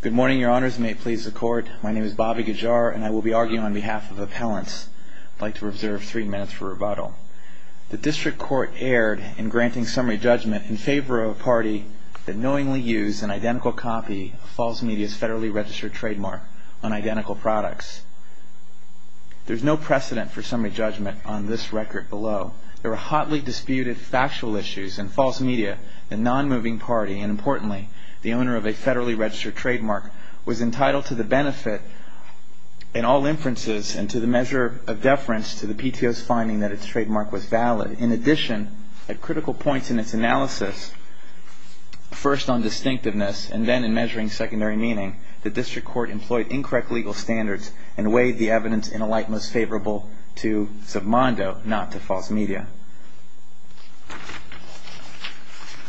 Good morning, your honors. May it please the court. My name is Bobby Guijar and I will be arguing on behalf of appellants. I'd like to reserve three minutes for rebuttal. The district court erred in granting summary judgment in favor of a party that knowingly used an identical copy of Falls Media's federally registered trademark on identical products. There's no precedent for summary judgment on this record below. There were hotly disputed factual issues, and Falls Media, a non-moving party, and importantly, the owner of a federally registered trademark, was entitled to the benefit in all inferences and to the measure of deference to the PTO's finding that its trademark was valid. In addition, at critical points in its analysis, first on distinctiveness and then in measuring secondary meaning, the district court employed incorrect legal standards and weighed the evidence in a light most favorable to Zobmondo, not to Falls Media.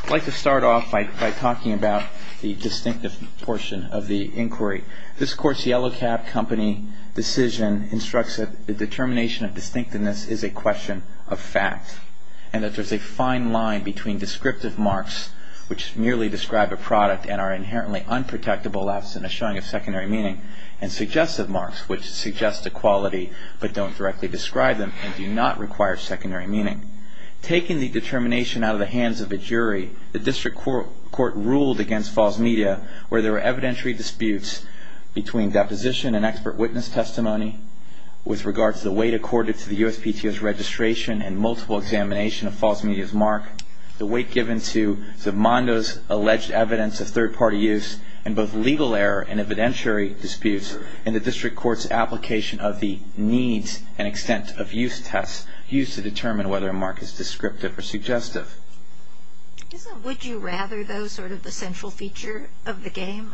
I'd like to start off by talking about the distinctive portion of the inquiry. This court's yellow-cap company decision instructs that the determination of distinctiveness is a question of fact and that there's a fine line between descriptive marks, which merely describe a product and are inherently unprotectable absent a showing of secondary meaning, and suggestive marks, which suggest a quality but don't directly describe them and do not require secondary meaning. Taking the determination out of the hands of a jury, the district court ruled against Falls Media where there were evidentiary disputes between deposition and expert witness testimony with regards to the weight accorded to the USPTO's registration and multiple examination of Falls Media's mark, the weight given to Zobmondo's alleged evidence of third-party use, and both legal error and evidentiary disputes in the district court's application of the needs and extent of use tests used to determine whether a mark is descriptive or suggestive. Isn't would you rather, though, sort of the central feature of the game?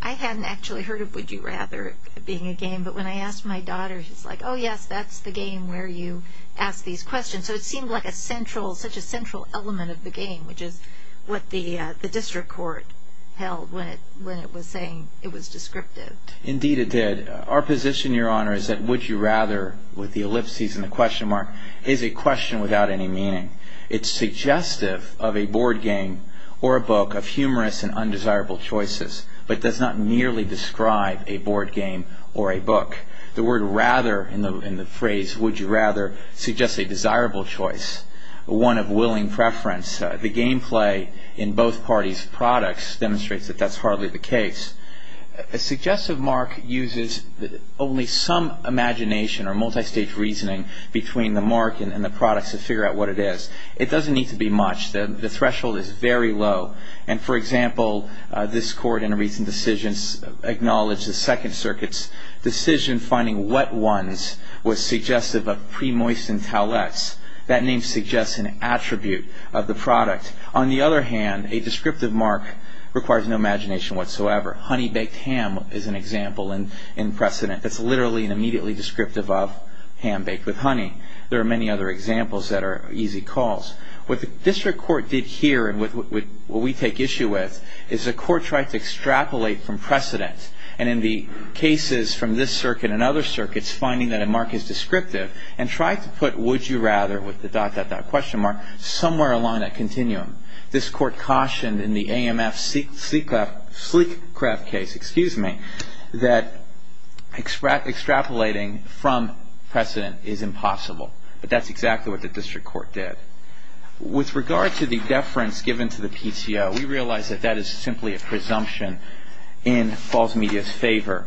I hadn't actually heard of would you rather being a game, but when I asked my daughter, she's like, oh yes, that's the game where you ask these questions. So it seemed like such a central element of the game, which is what the district court held when it was saying it was descriptive. Indeed it did. Our position, Your Honor, is that would you rather, with the ellipses and the question mark, is a question without any meaning. It's suggestive of a board game or a book of humorous and undesirable choices, but does not nearly describe a board game or a book. The word rather in the phrase would you rather suggests a desirable choice, one of willing preference. The game play in both parties' products demonstrates that that's hardly the case. A suggestive mark uses only some imagination or multistage reasoning between the mark and the products to figure out what it is. It doesn't need to be much. The threshold is very low. And, for example, this court in a recent decision acknowledged the Second Circuit's decision finding wet ones was suggestive of pre-moistened towelettes. That name suggests an attribute of the product. On the other hand, a descriptive mark requires no imagination whatsoever. Honey-baked ham is an example in precedent. It's literally and immediately descriptive of ham baked with honey. There are many other examples that are easy calls. What the district court did here and what we take issue with is the court tried to extrapolate from precedent. And in the cases from this circuit and other circuits, finding that a mark is descriptive and tried to put would you rather with the dot, dot, dot question mark somewhere along that continuum. This court cautioned in the AMF sleek craft case, excuse me, that extrapolating from precedent is impossible. But that's exactly what the district court did. With regard to the deference given to the PTO, we realize that that is simply a presumption in Falls Media's favor.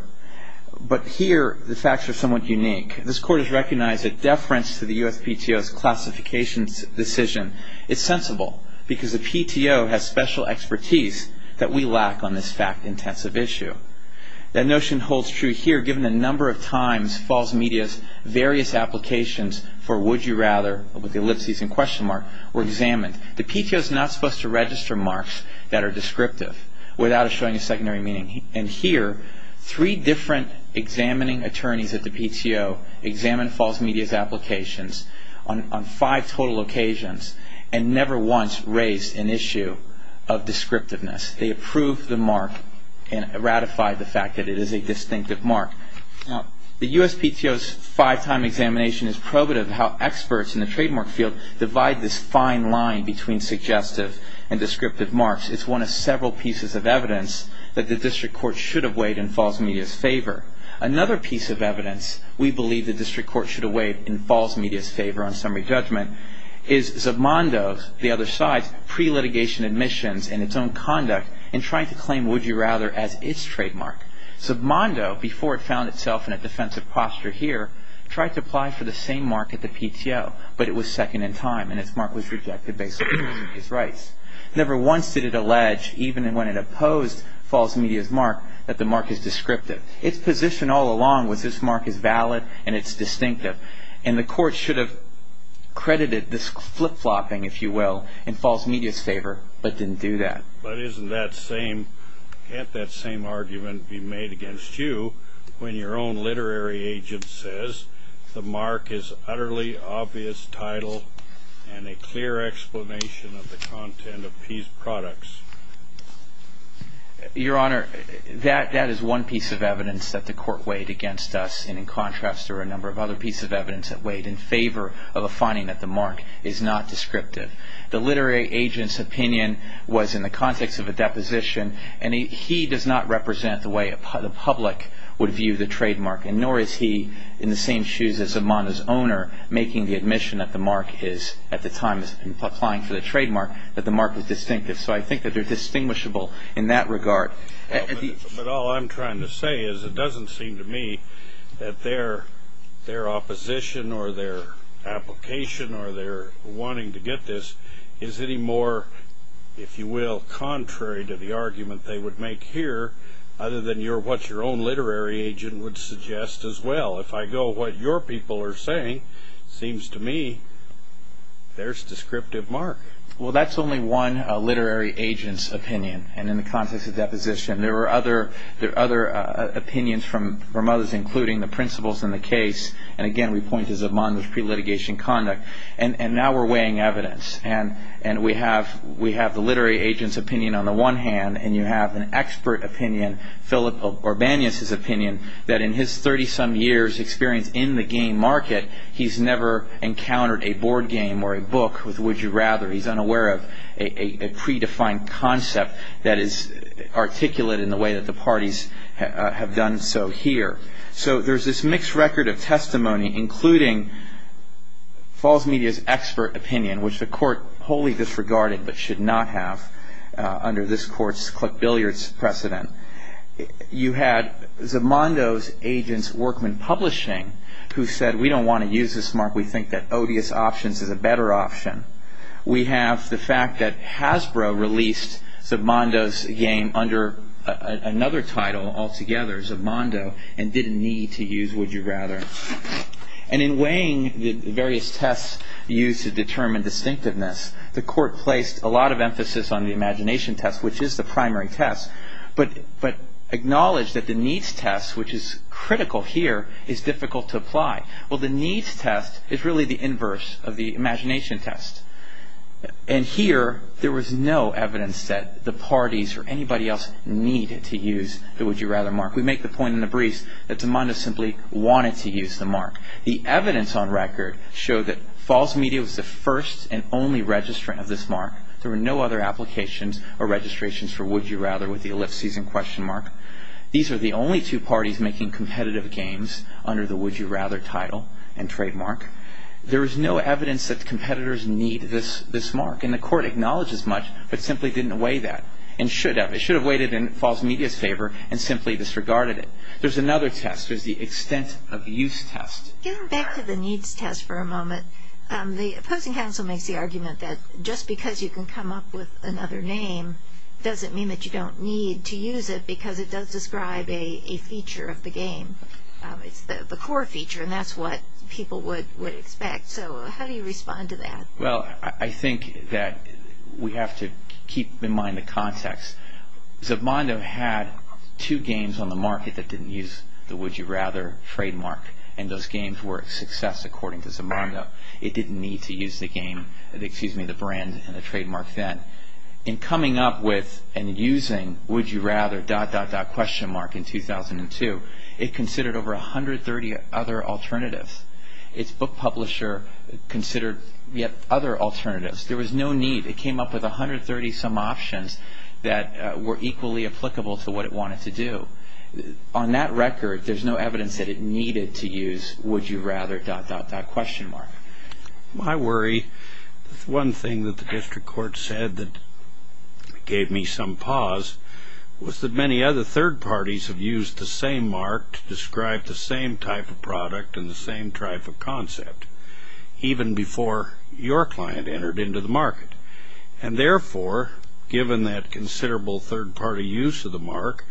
But here the facts are somewhat unique. This court has recognized that deference to the USPTO's classifications decision is sensible because the PTO has special expertise that we lack on this fact-intensive issue. That notion holds true here given the number of times Falls Media's various applications for would you rather with the ellipses and question mark were examined. The PTO is not supposed to register marks that are descriptive without showing a secondary meaning. And here, three different examining attorneys at the PTO examined Falls Media's applications on five total occasions and never once raised an issue of descriptiveness. They approved the mark and ratified the fact that it is a distinctive mark. Now, the USPTO's five-time examination is probative of how experts in the trademark field divide this fine line between suggestive and descriptive marks. It's one of several pieces of evidence that the district court should have weighed in Falls Media's favor. Another piece of evidence we believe the district court should have weighed in Falls Media's favor on summary judgment is Zabmondo's, the other side's, pre-litigation admissions and its own conduct in trying to claim would you rather as its trademark. Zabmondo, before it found itself in a defensive posture here, tried to apply for the same mark at the PTO but it was second in time and its mark was rejected based on its rights. Never once did it allege, even when it opposed Falls Media's mark, that the mark is descriptive. Its position all along was this mark is valid and it's distinctive. And the court should have credited this flip-flopping, if you will, in Falls Media's favor but didn't do that. But can't that same argument be made against you when your own literary agent says the mark is utterly obvious title and a clear explanation of the content of these products? Your Honor, that is one piece of evidence that the court weighed against us and in contrast there are a number of other pieces of evidence that weighed in favor of a finding that the mark is not descriptive. The literary agent's opinion was in the context of a deposition and he does not represent the way the public would view the trademark and nor is he in the same shoes as Zabmondo's owner making the admission that the mark is, at the time of applying for the trademark, that the mark was distinctive. So I think that they're distinguishable in that regard. But all I'm trying to say is it doesn't seem to me that their opposition or their application or their wanting to get this is any more, if you will, contrary to the argument they would make here other than what your own literary agent would suggest as well. If I go what your people are saying, it seems to me there's descriptive mark. Well, that's only one literary agent's opinion and in the context of deposition. There are other opinions from others including the principles in the case and again we point to Zabmondo's pre-litigation conduct. And now we're weighing evidence and we have the literary agent's opinion on the one hand and you have an expert opinion, Philip Orbanios' opinion, that in his 30-some years experience in the game market, he's never encountered a board game or a book with would you rather. He's unaware of a predefined concept that is articulate in the way that the parties have done so here. So there's this mixed record of testimony including Falls Media's expert opinion which the court wholly disregarded but should not have under this court's click billiards precedent. You had Zabmondo's agent's workman publishing who said we don't want to use this mark. We think that odious options is a better option. We have the fact that Hasbro released Zabmondo's game under another title altogether, Zabmondo, and didn't need to use would you rather. And in weighing the various tests used to determine distinctiveness, the court placed a lot of emphasis on the imagination test which is the primary test but acknowledged that the needs test which is critical here is difficult to apply. Well, the needs test is really the inverse of the imagination test. And here there was no evidence that the parties or anybody else needed to use the would you rather mark. We make the point in the briefs that Zabmondo simply wanted to use the mark. The evidence on record showed that Falls Media was the first and only registrant of this mark. There were no other applications or registrations for would you rather with the ellipses and question mark. These are the only two parties making competitive games under the would you rather title and trademark. There is no evidence that competitors need this mark, and the court acknowledges much but simply didn't weigh that and should have. It should have weighed it in Falls Media's favor and simply disregarded it. There's another test. There's the extent of use test. Getting back to the needs test for a moment, the opposing counsel makes the argument that just because you can come up with another name doesn't mean that you don't need to use it because it does describe a feature of the game. It's the core feature, and that's what people would expect. So how do you respond to that? Well, I think that we have to keep in mind the context. Zabmondo had two games on the market that didn't use the would you rather trademark, and those games were a success according to Zabmondo. It didn't need to use the brand and the trademark then. In coming up with and using would you rather dot dot dot question mark in 2002, it considered over 130 other alternatives. Its book publisher considered yet other alternatives. There was no need. It came up with 130 some options that were equally applicable to what it wanted to do. On that record, there's no evidence that it needed to use would you rather dot dot dot question mark. My worry is one thing that the district court said that gave me some pause was that many other third parties have used the same mark to describe the same type of product and the same type of concept even before your client entered into the market. And therefore, given that considerable third party use of the mark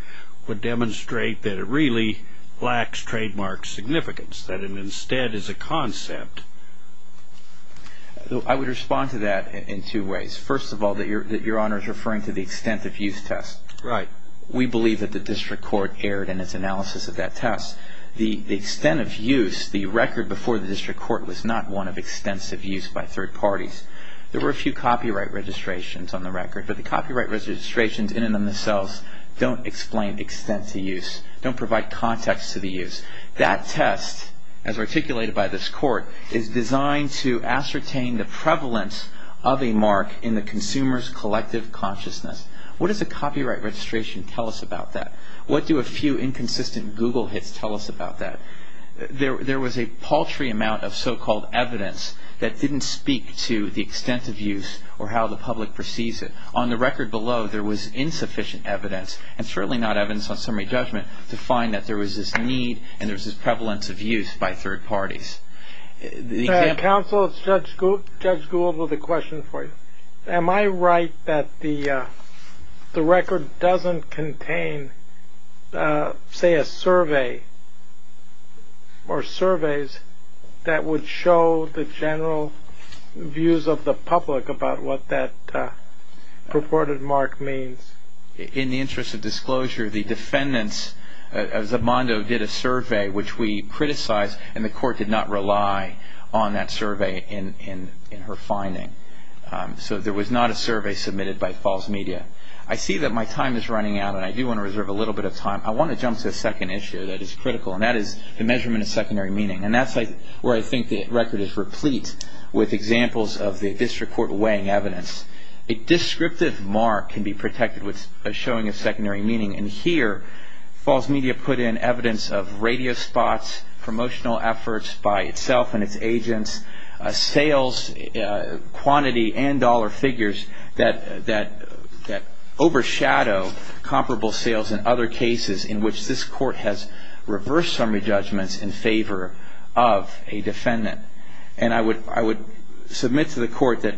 would demonstrate that it really lacks trademark significance, that it instead is a concept. I would respond to that in two ways. First of all, that Your Honor is referring to the extent of use test. Right. We believe that the district court erred in its analysis of that test. The extent of use, the record before the district court was not one of extensive use by third parties. There were a few copyright registrations on the record, but the copyright registrations in and of themselves don't explain extent to use, don't provide context to the use. That test, as articulated by this court, is designed to ascertain the prevalence of a mark in the consumer's collective consciousness. What does a copyright registration tell us about that? What do a few inconsistent Google hits tell us about that? There was a paltry amount of so-called evidence that didn't speak to the extent of use or how the public perceives it. On the record below, there was insufficient evidence, and certainly not evidence on summary judgment, to find that there was this need and there was this prevalence of use by third parties. Counsel, Judge Gould has a question for you. Am I right that the record doesn't contain, say, a survey or surveys that would show the general views of the public about what that purported mark means? In the interest of disclosure, the defendants, Zimbando did a survey which we criticized, and the court did not rely on that survey in her finding. So there was not a survey submitted by FalseMedia. I see that my time is running out, and I do want to reserve a little bit of time. I want to jump to a second issue that is critical, and that is the measurement of secondary meaning. And that's where I think the record is replete with examples of the district court weighing evidence. A descriptive mark can be protected with a showing of secondary meaning. And here, FalseMedia put in evidence of radio spots, promotional efforts by itself and its agents, sales quantity and dollar figures that overshadow comparable sales in other cases in which this court has reversed summary judgments in favor of a defendant. And I would submit to the court that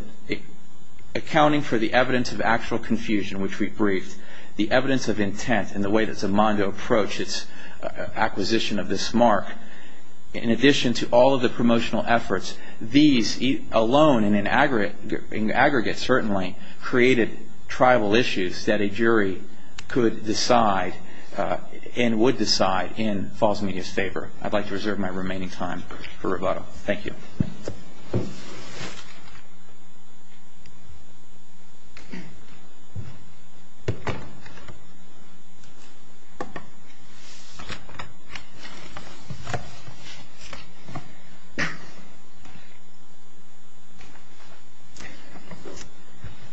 accounting for the evidence of actual confusion, which we briefed, the evidence of intent and the way that Zimbando approached its acquisition of this mark, in addition to all of the promotional efforts, these alone and in aggregate certainly created tribal issues that a jury could decide and would decide in FalseMedia's favor. I'd like to reserve my remaining time for rebuttal. Thank you.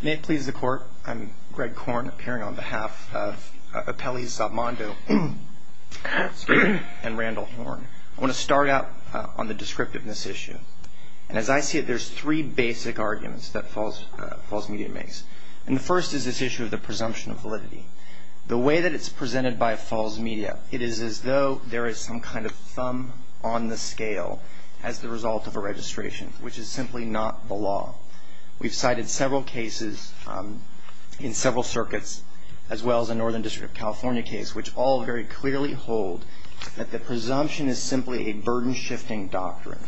May it please the Court. I'm Greg Korn, appearing on behalf of Apelli Zimbando and Randall Horne. I want to start out on the descriptiveness issue. And as I see it, there's three basic arguments that FalseMedia makes. And the first is this issue of the presumption of validity. The way that it's presented by FalseMedia, it is as though there is some kind of thumb on the scale as the result of a registration, which is simply not the law. We've cited several cases in several circuits, as well as a Northern District of California case, which all very clearly hold that the presumption is simply a burden-shifting doctrine.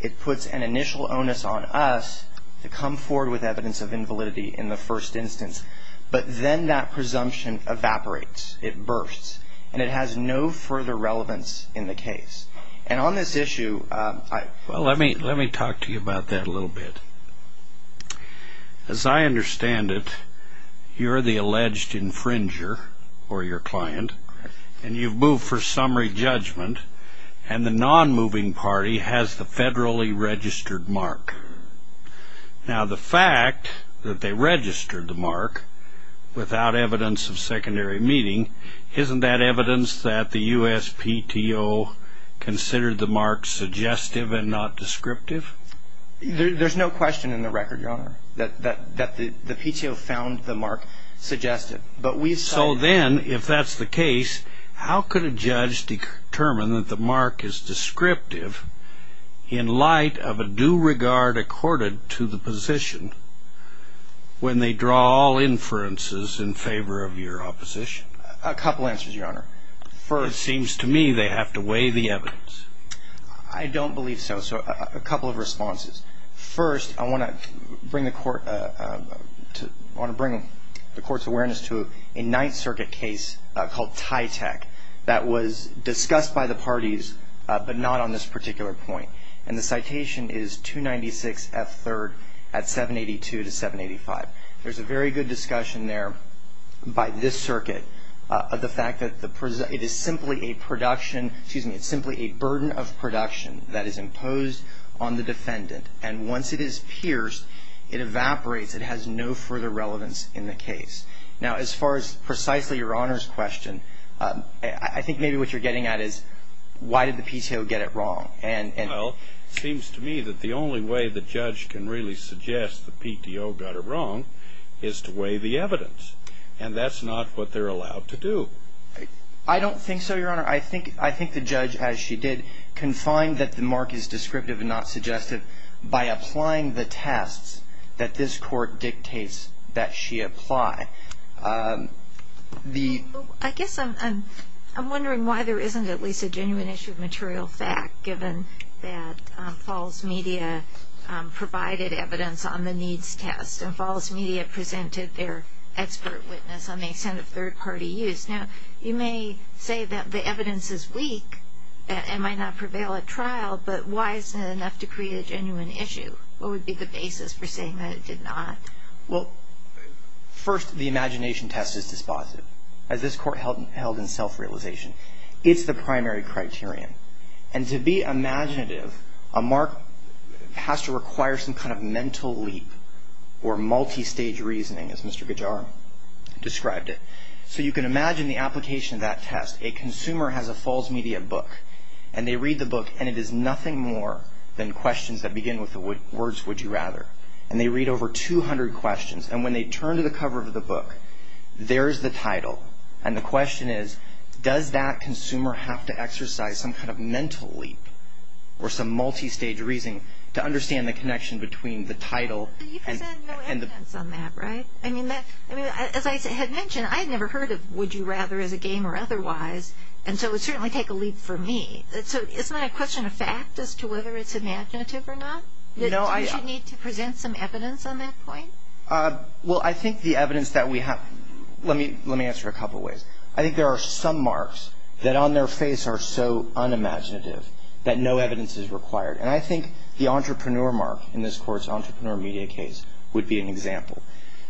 It puts an initial onus on us to come forward with evidence of invalidity in the first instance. But then that presumption evaporates. It bursts. And it has no further relevance in the case. And on this issue, I... Well, let me talk to you about that a little bit. As I understand it, you're the alleged infringer, or your client. And you've moved for summary judgment. And the non-moving party has the federally registered mark. Now, the fact that they registered the mark without evidence of secondary meeting, isn't that evidence that the USPTO considered the mark suggestive and not descriptive? There's no question in the record, Your Honor, that the PTO found the mark suggestive. So then, if that's the case, how could a judge determine that the mark is descriptive in light of a due regard accorded to the position when they draw all inferences in favor of your opposition? A couple answers, Your Honor. It seems to me they have to weigh the evidence. I don't believe so. So a couple of responses. First, I want to bring the court's awareness to a Ninth Circuit case called TYTEC that was discussed by the parties, but not on this particular point. And the citation is 296 F. 3rd at 782 to 785. There's a very good discussion there by this circuit of the fact that it is simply a burden of production that is imposed on the defendant, and once it is pierced, it evaporates. It has no further relevance in the case. Now, as far as precisely Your Honor's question, I think maybe what you're getting at is why did the PTO get it wrong? Well, it seems to me that the only way the judge can really suggest the PTO got it wrong is to weigh the evidence, and that's not what they're allowed to do. I don't think so, Your Honor. I think the judge, as she did, can find that the mark is descriptive and not suggestive by applying the tests that this court dictates that she apply. I guess I'm wondering why there isn't at least a genuine issue of material fact, given that Falls Media provided evidence on the needs test, and Falls Media presented their expert witness on the extent of third-party use. Now, you may say that the evidence is weak and might not prevail at trial, but why isn't it enough to create a genuine issue? What would be the basis for saying that it did not? Well, first, the imagination test is dispositive, as this court held in self-realization. It's the primary criterion, and to be imaginative, a mark has to require some kind of mental leap or multistage reasoning, as Mr. Gajar described it. So you can imagine the application of that test. A consumer has a Falls Media book, and they read the book, and it is nothing more than questions that begin with the words, Would you rather, and they read over 200 questions, and when they turn to the cover of the book, there's the title, and the question is, does that consumer have to exercise some kind of mental leap or some multistage reasoning to understand the connection between the title and the book? You present no evidence on that, right? I mean, as I had mentioned, I had never heard of Would you rather as a game or otherwise, and so it would certainly take a leap for me. So isn't that a question of fact as to whether it's imaginative or not, that you should need to present some evidence on that point? Well, I think the evidence that we have, let me answer a couple ways. I think there are some marks that on their face are so unimaginative that no evidence is required, and I think the entrepreneur mark in this court's entrepreneur media case would be an example.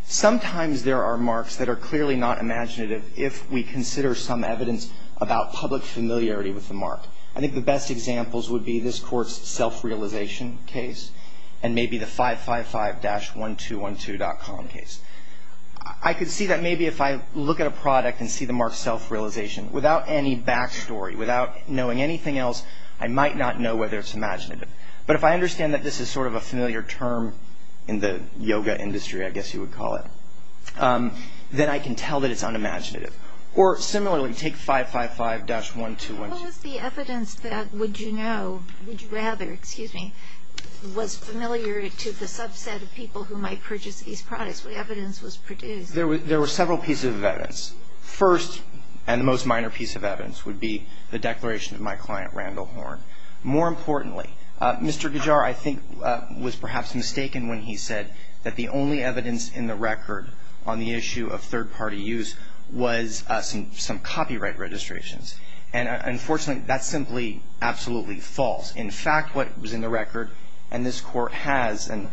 Sometimes there are marks that are clearly not imaginative if we consider some evidence about public familiarity with the mark. I think the best examples would be this court's self-realization case and maybe the 555-1212.com case. I could see that maybe if I look at a product and see the mark self-realization, without any back story, without knowing anything else, I might not know whether it's imaginative. But if I understand that this is sort of a familiar term in the yoga industry, I guess you would call it, then I can tell that it's unimaginative. Or similarly, take 555-1212. What was the evidence that Would You Know, Would You Rather, excuse me, was familiar to the subset of people who might purchase these products? What evidence was produced? There were several pieces of evidence. First and the most minor piece of evidence would be the declaration of my client, Randall Horn. More importantly, Mr. Gujar, I think, was perhaps mistaken when he said that the only evidence in the record on the issue of third-party use was some copyright registrations. And unfortunately, that's simply absolutely false. In fact, what was in the record, and this court has, and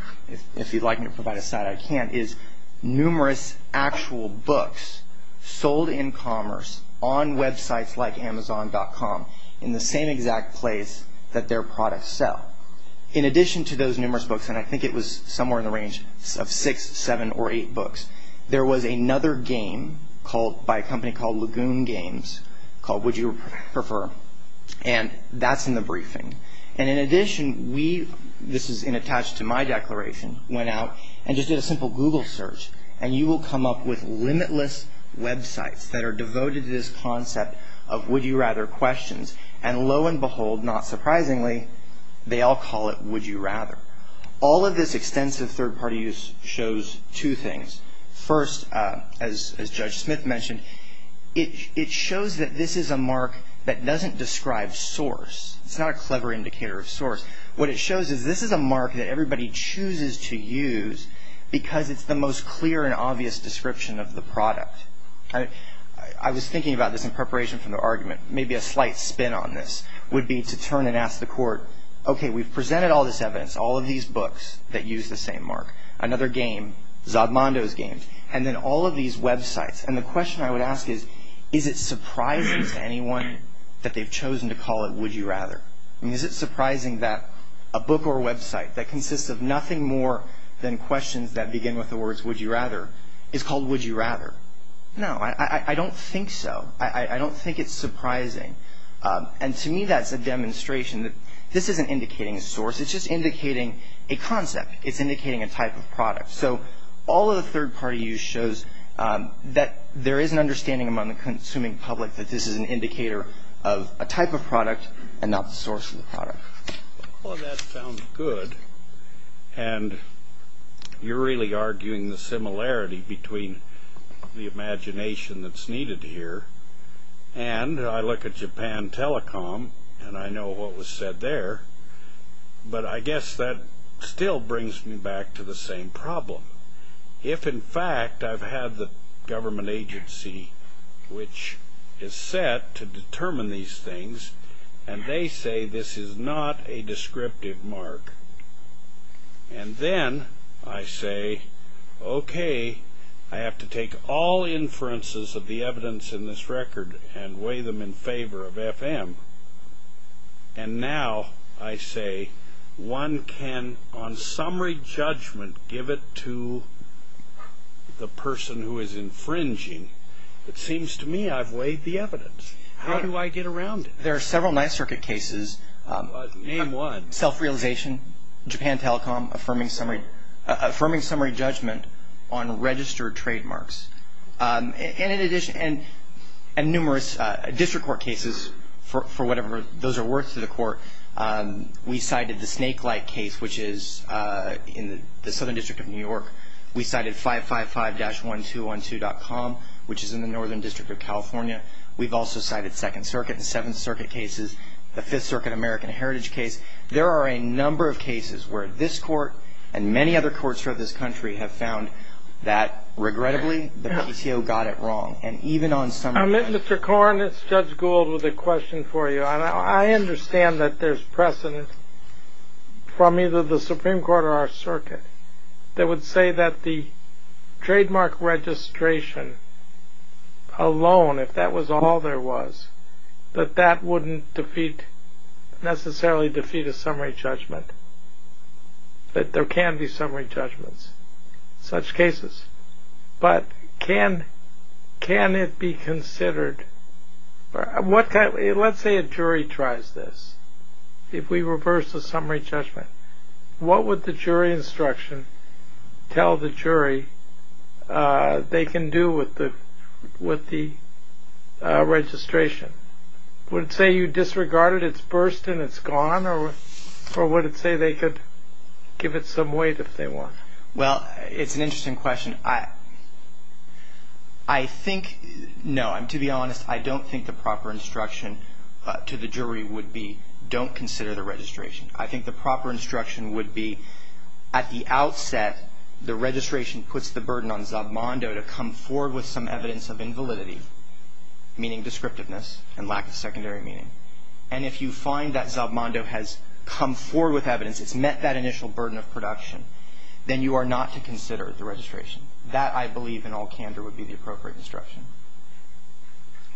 if you'd like me to provide a side, I can't, is numerous actual books sold in commerce on websites like Amazon.com in the same exact place that their products sell. In addition to those numerous books, and I think it was somewhere in the range of six, seven, or eight books, there was another game called, by a company called Lagoon Games, called Would You Prefer? And that's in the briefing. And in addition, we, this is attached to my declaration, went out and just did a simple Google search, and you will come up with limitless websites that are devoted to this concept of would you rather questions. And lo and behold, not surprisingly, they all call it would you rather. All of this extensive third-party use shows two things. First, as Judge Smith mentioned, it shows that this is a mark that doesn't describe source. It's not a clever indicator of source. What it shows is this is a mark that everybody chooses to use because it's the most clear and obvious description of the product. I was thinking about this in preparation for the argument. Maybe a slight spin on this would be to turn and ask the court, okay, we've presented all this evidence, all of these books that use the same mark, another game, Zob Mondo's games, and then all of these websites. And the question I would ask is, is it surprising to anyone that they've chosen to call it would you rather? I mean, is it surprising that a book or website that consists of nothing more than questions that begin with the words would you rather is called would you rather? No, I don't think so. I don't think it's surprising. And to me, that's a demonstration that this isn't indicating a source. It's just indicating a concept. It's indicating a type of product. So all of the third-party use shows that there is an understanding among the consuming public that this is an indicator of a type of product and not the source of the product. Well, that sounds good. And you're really arguing the similarity between the imagination that's needed here. And I look at Japan Telecom, and I know what was said there. But I guess that still brings me back to the same problem. If, in fact, I've had the government agency, which is set to determine these things, and they say this is not a descriptive mark, and then I say, okay, I have to take all inferences of the evidence in this record and weigh them in favor of FM, and now I say one can, on summary judgment, give it to the person who is infringing, it seems to me I've weighed the evidence. How do I get around it? There are several Ninth Circuit cases. Name one. Self-realization, Japan Telecom affirming summary judgment on registered trademarks. And numerous district court cases, for whatever those are worth to the court. We cited the Snake Light case, which is in the Southern District of New York. We cited 555-1212.com, which is in the Northern District of California. We've also cited Second Circuit and Seventh Circuit cases, the Fifth Circuit American Heritage case. There are a number of cases where this court and many other courts throughout this country have found that, regrettably, the PCO got it wrong, and even on summary judgment. Mr. Korn, it's Judge Gould with a question for you. I understand that there's precedent from either the Supreme Court or our circuit that would say that the trademark registration alone, if that was all there was, that that wouldn't necessarily defeat a summary judgment. That there can be summary judgments in such cases. But can it be considered? Let's say a jury tries this. If we reverse the summary judgment, what would the jury instruction tell the jury they can do with the registration? Would it say you disregarded its burst and it's gone? Or would it say they could give it some weight if they want? Well, it's an interesting question. I think, no, to be honest, I don't think the proper instruction to the jury would be don't consider the registration. I think the proper instruction would be, at the outset, the registration puts the burden on Zabmondo to come forward with some evidence of invalidity, meaning descriptiveness and lack of secondary meaning. And if you find that Zabmondo has come forward with evidence, it's met that initial burden of production, then you are not to consider the registration. That, I believe, in all candor, would be the appropriate instruction.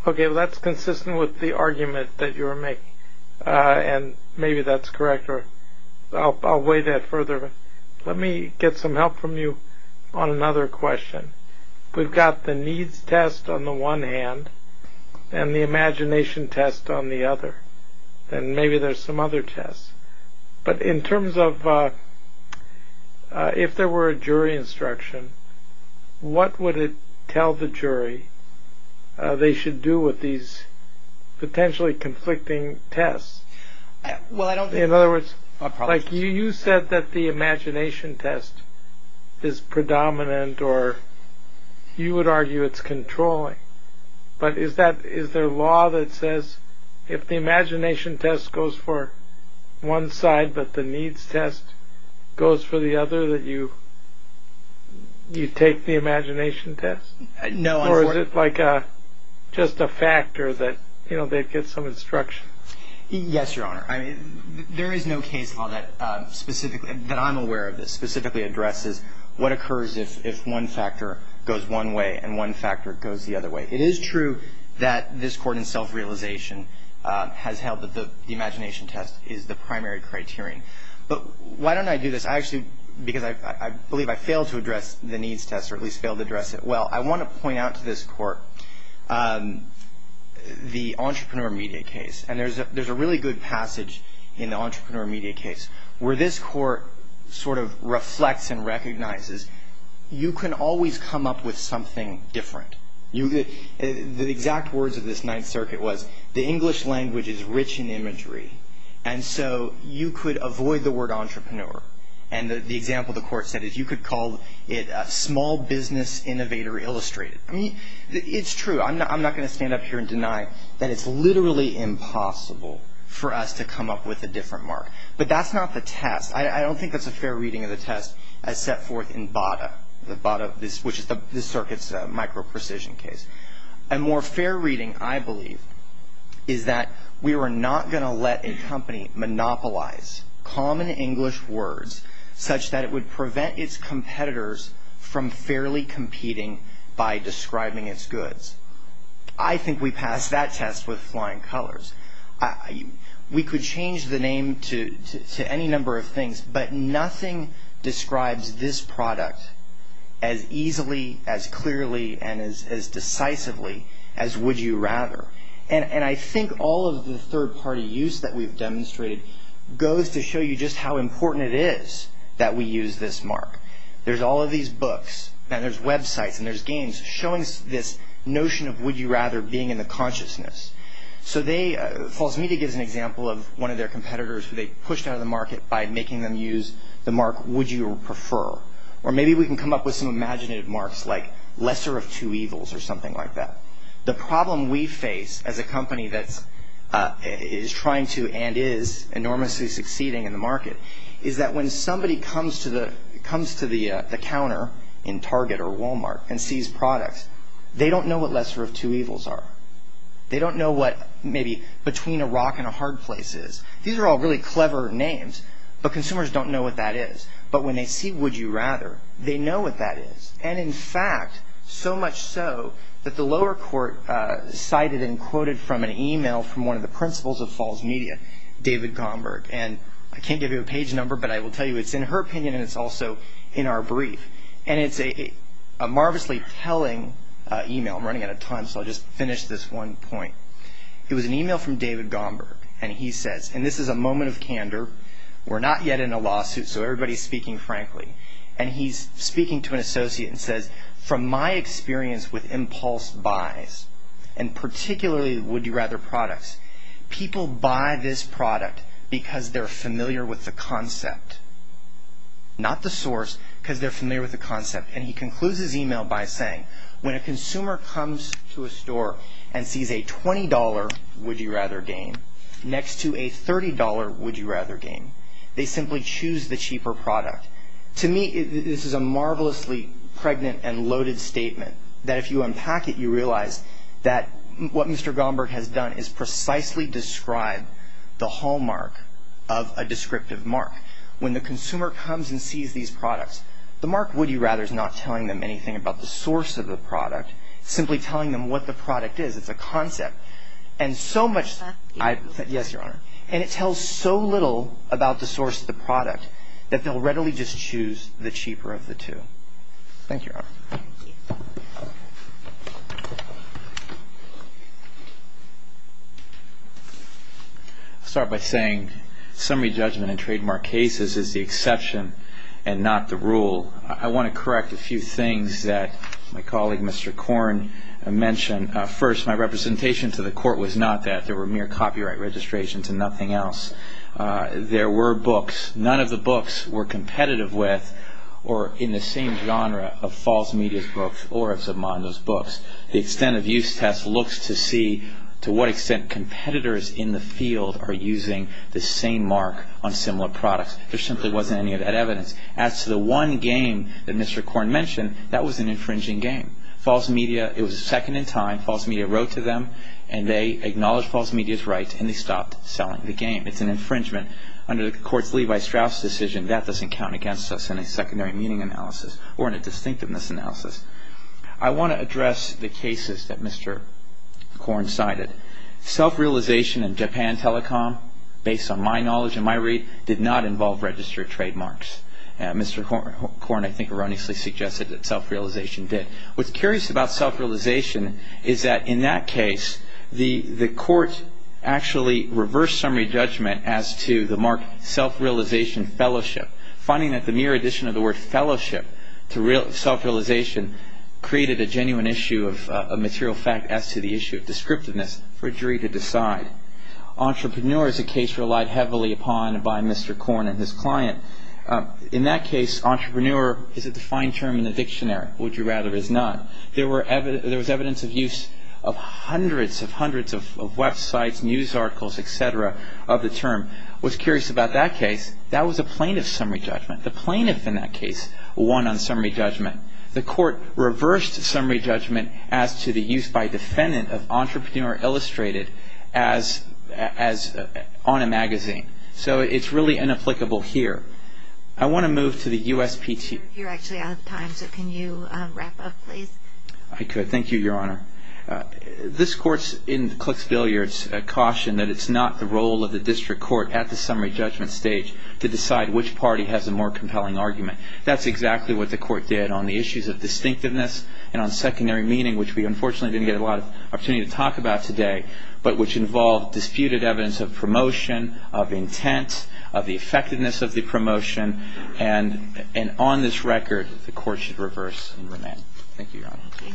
OK. That's consistent with the argument that you are making. And maybe that's correct. I'll weigh that further. Let me get some help from you on another question. We've got the needs test on the one hand and the imagination test on the other. And maybe there's some other tests. But in terms of if there were a jury instruction, what would it tell the jury they should do with these potentially conflicting tests? Well, I don't. In other words, like you said that the imagination test is predominant or you would argue it's controlling. But is that is there a law that says if the imagination test goes for one side but the needs test goes for the other, that you take the imagination test? No. Or is it like just a factor that, you know, they'd get some instruction? Yes, Your Honor. There is no case law that specifically that I'm aware of that specifically addresses what occurs if one factor goes one way and one factor goes the other way. It is true that this court in self-realization has held that the imagination test is the primary criterion. But why don't I do this? I actually, because I believe I failed to address the needs test or at least failed to address it well. I want to point out to this court the entrepreneur media case. And there's a really good passage in the entrepreneur media case where this court sort of reflects and recognizes you can always come up with something different. The exact words of this Ninth Circuit was the English language is rich in imagery. And so you could avoid the word entrepreneur. And the example the court said is you could call it a small business innovator illustrated. I mean, it's true. I'm not going to stand up here and deny that it's literally impossible for us to come up with a different mark. But that's not the test. I don't think that's a fair reading of the test as set forth in Bada, which is this circuit's micro-precision case. A more fair reading, I believe, is that we were not going to let a company monopolize common English words such that it would prevent its competitors from fairly competing by describing its goods. I think we passed that test with flying colors. We could change the name to any number of things, but nothing describes this product as easily, as clearly, and as decisively as would you rather. And I think all of the third-party use that we've demonstrated goes to show you just how important it is that we use this mark. There's all of these books, and there's websites, and there's games showing this notion of would you rather being in the consciousness. So they – False Media gives an example of one of their competitors who they pushed out of the market by making them use the mark would you prefer. Or maybe we can come up with some imaginative marks like lesser of two evils or something like that. The problem we face as a company that is trying to and is enormously succeeding in the market is that when somebody comes to the counter in Target or Walmart and sees products, they don't know what lesser of two evils are. They don't know what maybe between a rock and a hard place is. These are all really clever names, but consumers don't know what that is. But when they see would you rather, they know what that is. And in fact, so much so that the lower court cited and quoted from an email from one of the principals of False Media, David Gomberg. And I can't give you a page number, but I will tell you it's in her opinion, and it's also in our brief. And it's a marvelously telling email. I'm running out of time, so I'll just finish this one point. It was an email from David Gomberg, and he says, and this is a moment of candor. We're not yet in a lawsuit, so everybody's speaking frankly. And he's speaking to an associate and says, from my experience with impulse buys, and particularly would you rather products, people buy this product because they're familiar with the concept, not the source, because they're familiar with the concept. And he concludes his email by saying, when a consumer comes to a store and sees a $20 would you rather game next to a $30 would you rather game, they simply choose the cheaper product. To me, this is a marvelously pregnant and loaded statement that if you unpack it, you realize that what Mr. Gomberg has done is precisely describe the hallmark of a descriptive mark. When the consumer comes and sees these products, the mark would you rather is not telling them anything about the source of the product, simply telling them what the product is. It's a concept. And so much. Yes, Your Honor. And it tells so little about the source of the product that they'll readily just choose the cheaper of the two. Thank you, Your Honor. Thank you. I'll start by saying summary judgment in trademark cases is the exception and not the rule. I want to correct a few things that my colleague Mr. Korn mentioned. First, my representation to the court was not that. There were mere copyright registrations and nothing else. There were books. None of the books were competitive with or in the same genre of false media's books or of submodels' books. The extent of use test looks to see to what extent competitors in the field are using the same mark on similar products. There simply wasn't any of that evidence. As to the one game that Mr. Korn mentioned, that was an infringing game. False media, it was second in time. False media wrote to them and they acknowledged false media's right and they stopped selling the game. It's an infringement. Under the court's Levi-Strauss decision, that doesn't count against us in a secondary meaning analysis or in a distinctiveness analysis. I want to address the cases that Mr. Korn cited. Self-realization and Japan Telecom, based on my knowledge and my read, did not involve registered trademarks. Mr. Korn, I think, erroneously suggested that self-realization did. What's curious about self-realization is that in that case, the court actually reversed summary judgment as to the mark self-realization fellowship. Finding that the mere addition of the word fellowship to self-realization created a genuine issue of material fact as to the issue of descriptiveness for a jury to decide. Entrepreneur is a case relied heavily upon by Mr. Korn and his client. In that case, entrepreneur is a defined term in the dictionary. Would you rather it is not? There was evidence of use of hundreds and hundreds of websites, news articles, et cetera, of the term. What's curious about that case, that was a plaintiff's summary judgment. The plaintiff in that case won on summary judgment. The court reversed summary judgment as to the use by defendant of entrepreneur illustrated on a magazine. So it's really inapplicable here. I want to move to the USPT. You're actually out of time, so can you wrap up, please? I could. Thank you, Your Honor. This court's in Clixbilliard's caution that it's not the role of the district court at the summary judgment stage to decide which party has a more compelling argument. That's exactly what the court did on the issues of distinctiveness and on secondary meaning, which we unfortunately didn't get a lot of opportunity to talk about today, but which involved disputed evidence of promotion, of intent, of the effectiveness of the promotion. And on this record, the court should reverse and remain. Thank you, Your Honor. Okay.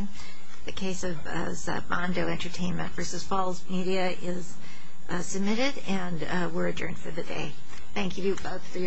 The case of Zabando Entertainment v. Falls Media is submitted, and we're adjourned for the day. Thank you both for your arguments. All rise for the decision to adjourn.